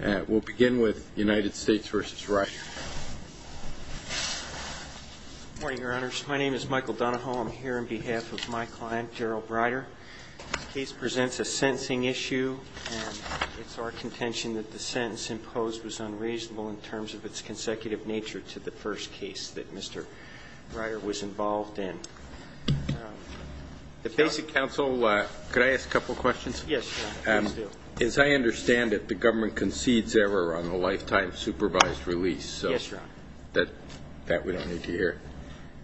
My name is Michael Donahoe. I'm here on behalf of my client, Gerald Rider. The case presents a sentencing issue, and it's our contention that the sentence imposed was unreasonable in terms of its consecutive nature to the first case that Mr. Rider was involved in. The Basic Counsel, could I ask a couple of questions? Yes, Your Honor. Please do. As I understand it, the government concedes error on a lifetime supervised release. Yes, Your Honor. That we don't need to hear.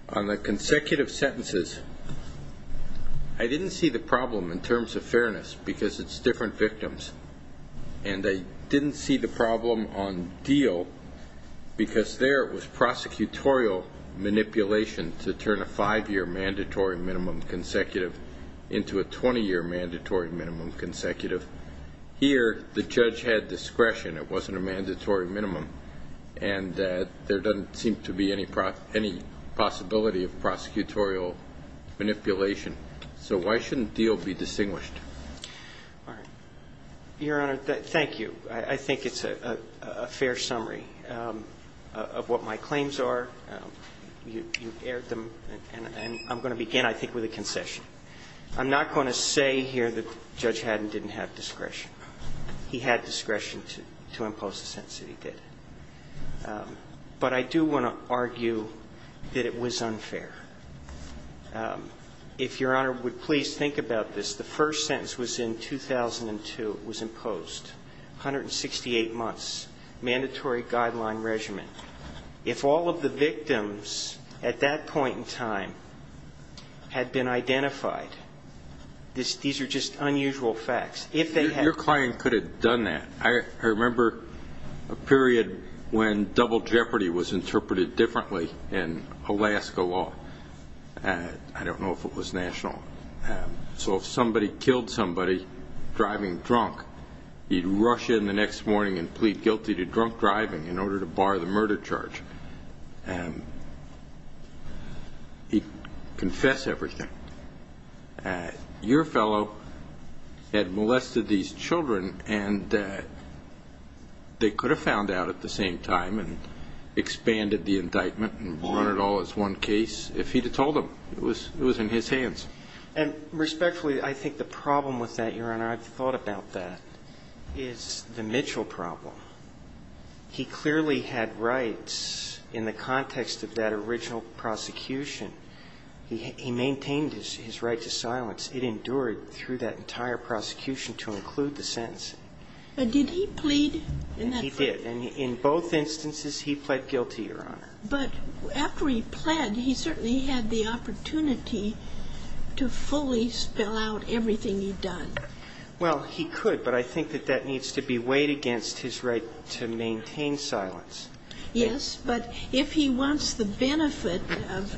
On the consecutive sentences, I didn't see the problem in terms of fairness, because it's different victims. And I didn't see the problem on deal, because there it was prosecutorial manipulation to turn a five-year mandatory minimum consecutive into a 20-year mandatory minimum consecutive. Here, the judge had discretion. It wasn't a mandatory minimum. And there doesn't seem to be any possibility of prosecutorial manipulation. So why shouldn't deal be distinguished? All right. Your Honor, thank you. I think it's a fair summary of what my claims are. You've aired them. And I'm going to begin, I think, with a concession. I'm not going to say here that Judge Haddon didn't have discretion. He had discretion to impose the sentence that he did. But I do want to argue that it was unfair. If Your Honor would please think about this. The first sentence was in 2002. It was imposed, 168 months, mandatory guideline regimen. If all of the victims at that point in time had been identified, these are just unusual facts. Your client could have done that. I remember a period when double jeopardy was interpreted differently in Alaska law. I don't know if it was national. So if somebody killed somebody driving drunk, he'd rush in the next morning and plead guilty to drunk driving in order to bar the murder charge. He'd confess everything. Your fellow had molested these children, and they could have found out at the same time and expanded the indictment and run it all as one case if he'd have told them. It was in his hands. And respectfully, I think the problem with that, Your Honor, I've thought about that, is the Mitchell problem. He clearly had rights in the context of that original prosecution. He maintained his right to silence. It endured through that entire prosecution to include the sentencing. But did he plead? He did. And in both instances, he pled guilty, Your Honor. But after he pled, he certainly had the opportunity to fully spell out everything he'd done. Well, he could, but I think that that needs to be weighed against his right to maintain silence. Yes, but if he wants the benefit of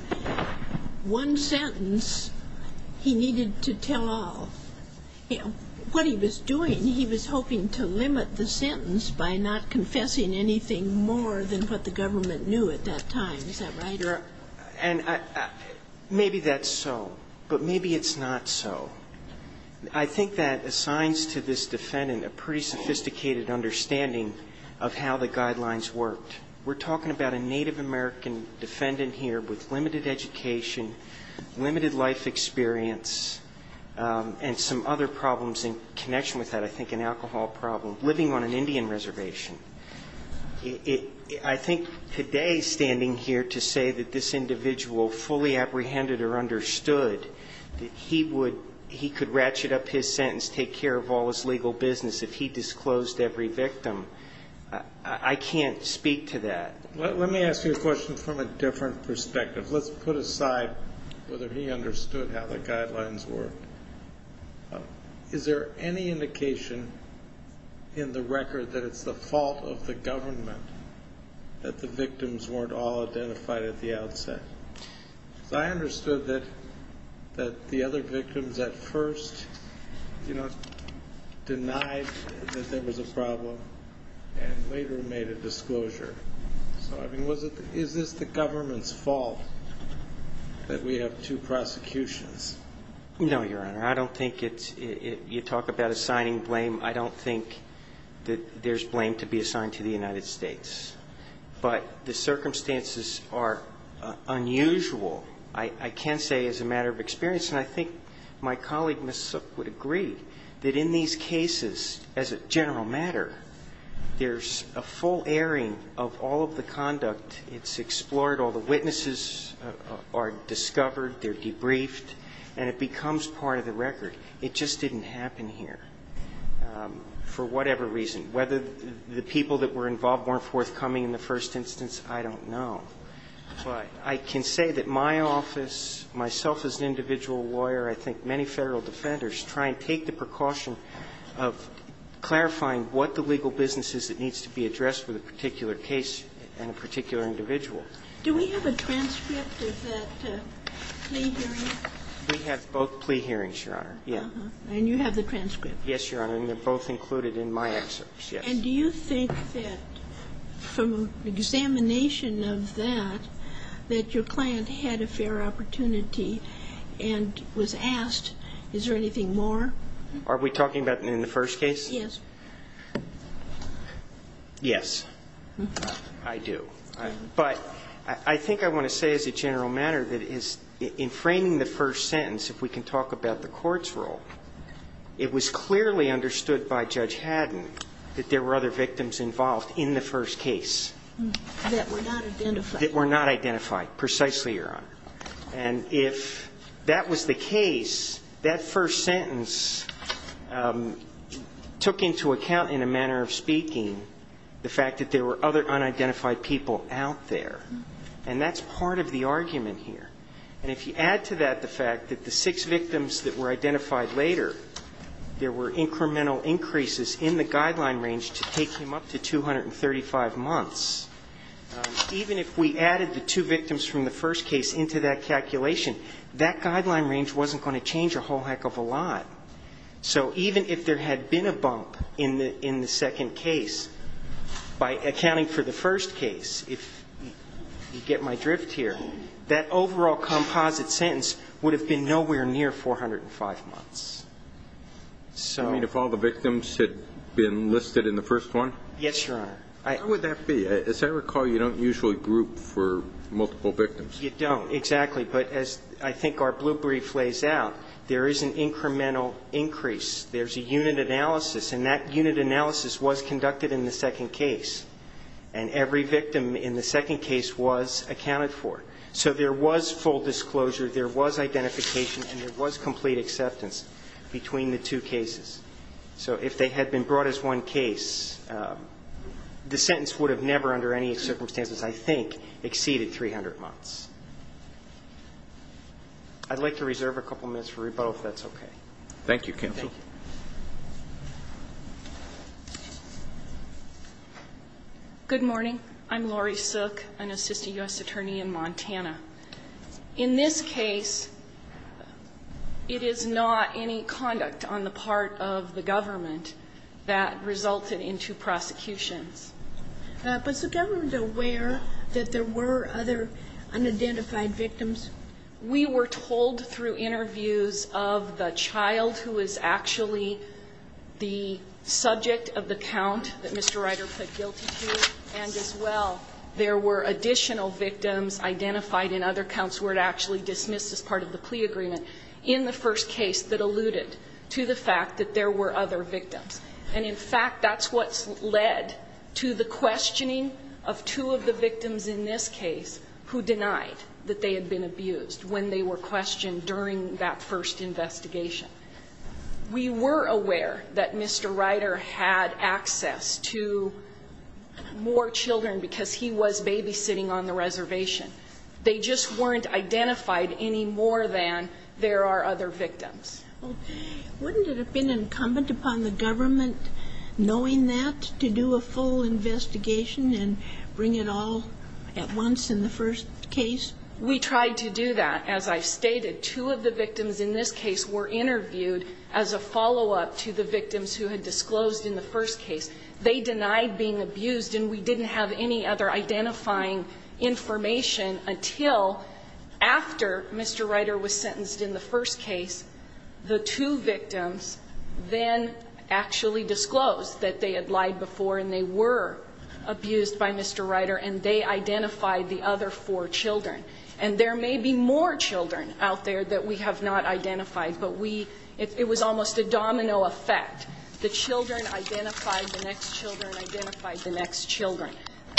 one sentence, he needed to tell all. What he was doing, he was hoping to limit the sentence by not confessing anything more than what the government knew at that time. Is that right? Your Honor, and maybe that's so, but maybe it's not so. I think that assigns to this defendant a pretty sophisticated understanding of how the guidelines worked. We're talking about a Native American defendant here with limited education, limited life experience, and some other problems in connection with that, I think an alcohol problem, living on an Indian reservation. I think today standing here to say that this individual fully apprehended or understood that he could ratchet up his sentence, take care of all his legal business if he disclosed every victim, I can't speak to that. Is it the fault of the government that the victims weren't all identified at the outset? Because I understood that the other victims at first denied that there was a problem and later made a disclosure. So I mean, is this the government's fault that we have two prosecutions? No, Your Honor. I don't think it's – you talk about assigning blame. I don't think that there's blame to be assigned to the United States. But the circumstances are unusual, I can say, as a matter of experience. And I think my colleague, Ms. Sook, would agree that in these cases, as a general matter, there's a full airing of all of the conduct. It's explored, all the witnesses are discovered, they're debriefed, and it becomes part of the record. It just didn't happen here for whatever reason. Whether the people that were involved weren't forthcoming in the first instance, I don't know. But I can say that my office, myself as an individual lawyer, I think many Federal defenders try and take the precaution of clarifying what the legal business is that needs to be addressed with a particular case and a particular individual. Do we have a transcript of that plea hearing? We have both plea hearings, Your Honor. And you have the transcript? Yes, Your Honor. And they're both included in my excerpts, yes. And do you think that from examination of that, that your client had a fair opportunity and was asked, is there anything more? Are we talking about in the first case? Yes. Yes, I do. But I think I want to say as a general matter that in framing the first sentence, if we can talk about the court's role, it was clearly understood by Judge Haddon that there were other victims involved in the first case. That were not identified. That were not identified, precisely, Your Honor. And if that was the case, that first sentence took into account in a manner of speaking the fact that there were other unidentified people out there. And that's part of the argument here. And if you add to that the fact that the six victims that were identified later, there were incremental increases in the guideline range to take him up to 235 months. Even if we added the two victims from the first case into that calculation, that guideline range wasn't going to change a whole heck of a lot. So even if there had been a bump in the second case, by accounting for the first case, if you get my drift here, that overall composite sentence would have been nowhere near 405 months. You mean if all the victims had been listed in the first one? Yes, Your Honor. How would that be? As I recall, you don't usually group for multiple victims. You don't, exactly. But as I think our blue brief lays out, there is an incremental increase. There's a unit analysis, and that unit analysis was conducted in the second case. And every victim in the second case was accounted for. So there was full disclosure, there was identification, and there was complete acceptance between the two cases. So if they had been brought as one case, the sentence would have never, under any circumstances, I think, exceeded 300 months. I'd like to reserve a couple minutes for rebuttal, if that's okay. Thank you, counsel. Thank you. Good morning. I'm Lori Sook, an assistant U.S. attorney in Montana. In this case, it is not any conduct on the part of the government that resulted into prosecutions. But is the government aware that there were other unidentified victims? We were told through interviews of the child who is actually the subject of the count that Mr. Ryder put guilty to, and as well, there were additional victims identified in other counts where it actually dismissed as part of the plea agreement, in the first case that alluded to the fact that there were other victims. And, in fact, that's what led to the questioning of two of the victims in this case who denied that they had been abused when they were questioned during that first investigation. We were aware that Mr. Ryder had access to more children because he was babysitting on the reservation. They just weren't identified any more than there are other victims. Well, wouldn't it have been incumbent upon the government, knowing that, to do a full investigation and bring it all at once in the first case? We tried to do that. As I've stated, two of the victims in this case were interviewed as a follow-up to the victims who had disclosed in the first case. They denied being abused, and we didn't have any other identifying information until after Mr. Ryder was sentenced in the first case. The two victims then actually disclosed that they had lied before and they were abused by Mr. Ryder, and they identified the other four children. And there may be more children out there that we have not identified, but it was almost a domino effect. The children identified the next children, identified the next children,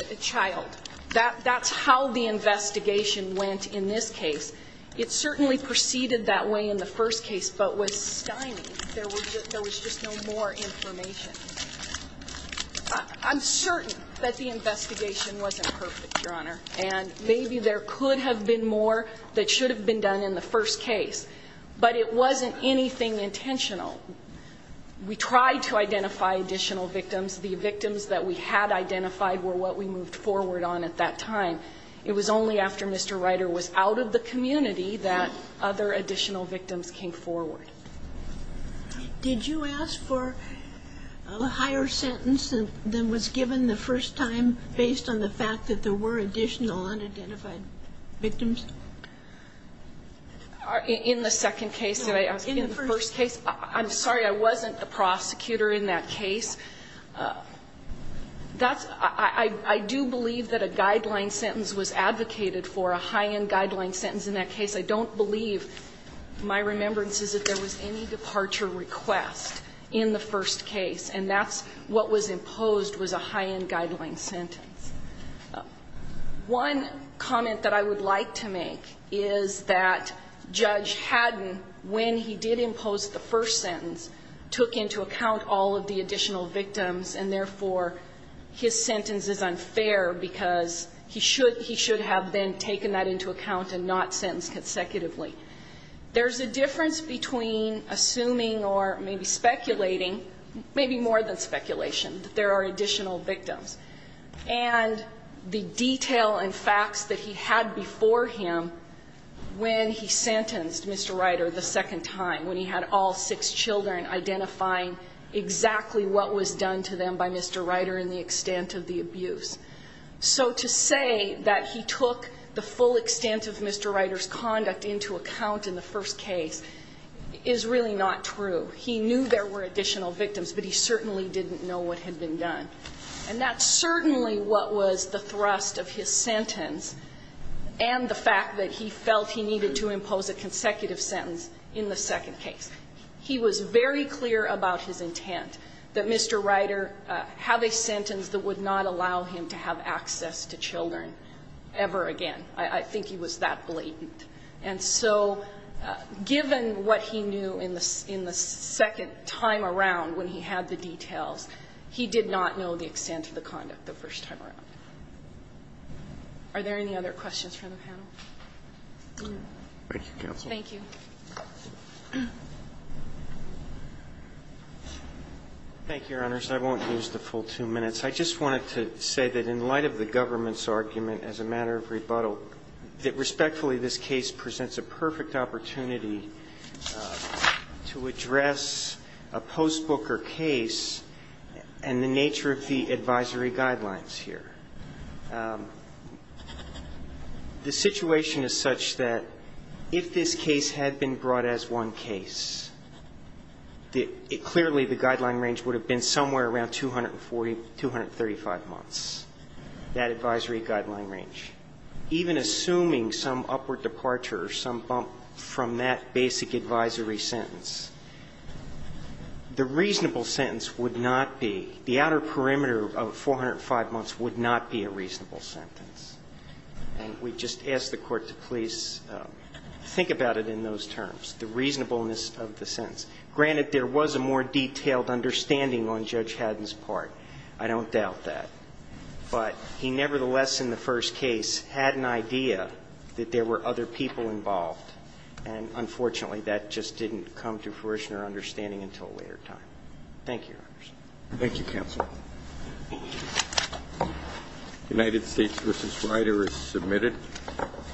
the child. That's how the investigation went in this case. It certainly proceeded that way in the first case but was stymied. There was just no more information. I'm certain that the investigation wasn't perfect, Your Honor, and maybe there could have been more that should have been done in the first case. But it wasn't anything intentional. We tried to identify additional victims. The victims that we had identified were what we moved forward on at that time. It was only after Mr. Ryder was out of the community that other additional victims came forward. Did you ask for a higher sentence than was given the first time based on the fact that there were additional unidentified victims? In the second case that I asked in the first case? In the first case. I'm sorry. I wasn't the prosecutor in that case. That's – I do believe that a guideline sentence was advocated for, a high-end guideline sentence in that case. I don't believe – my remembrance is that there was any departure request in the first case. And that's what was imposed was a high-end guideline sentence. One comment that I would like to make is that Judge Haddon, when he did impose the first sentence, took into account all of the additional victims. And therefore, his sentence is unfair because he should have then taken that into account and not sentenced consecutively. There's a difference between assuming or maybe speculating, maybe more than speculation, that there are additional victims. And the detail and facts that he had before him when he sentenced Mr. Ryder the second time, when he had all six children, identifying exactly what was done to them by Mr. Ryder and the extent of the abuse. So to say that he took the full extent of Mr. Ryder's conduct into account in the first case is really not true. He knew there were additional victims, but he certainly didn't know what had been done. And that's certainly what was the thrust of his sentence and the fact that he felt he needed to impose a consecutive sentence in the second case. He was very clear about his intent that Mr. Ryder have a sentence that would not allow him to have access to children ever again. I think he was that blatant. And so given what he knew in the second time around when he had the details, he did not know the extent of the conduct the first time around. Are there any other questions from the panel? Thank you, Counsel. Thank you. Thank you, Your Honors. I won't use the full two minutes. I just wanted to say that in light of the government's argument as a matter of rebuttal, that respectfully this case presents a perfect opportunity to address a post-Booker case and the nature of the advisory guidelines here. The situation is such that if this case had been brought as one case, that it clearly the guideline range would have been somewhere around 240, 235 months, that advisory guideline range. Even assuming some upward departure or some bump from that basic advisory sentence, the reasonable sentence would not be, the outer perimeter of 405 months would not be a reasonable sentence. And we just ask the Court to please think about it in those terms, the reasonableness of the sentence. Granted, there was a more detailed understanding on Judge Haddon's part. I don't doubt that. But he nevertheless in the first case had an idea that there were other people involved. And unfortunately, that just didn't come to fruition or understanding until a later time. Thank you, Your Honors. Thank you, Counsel. United States v. Ryder is submitted.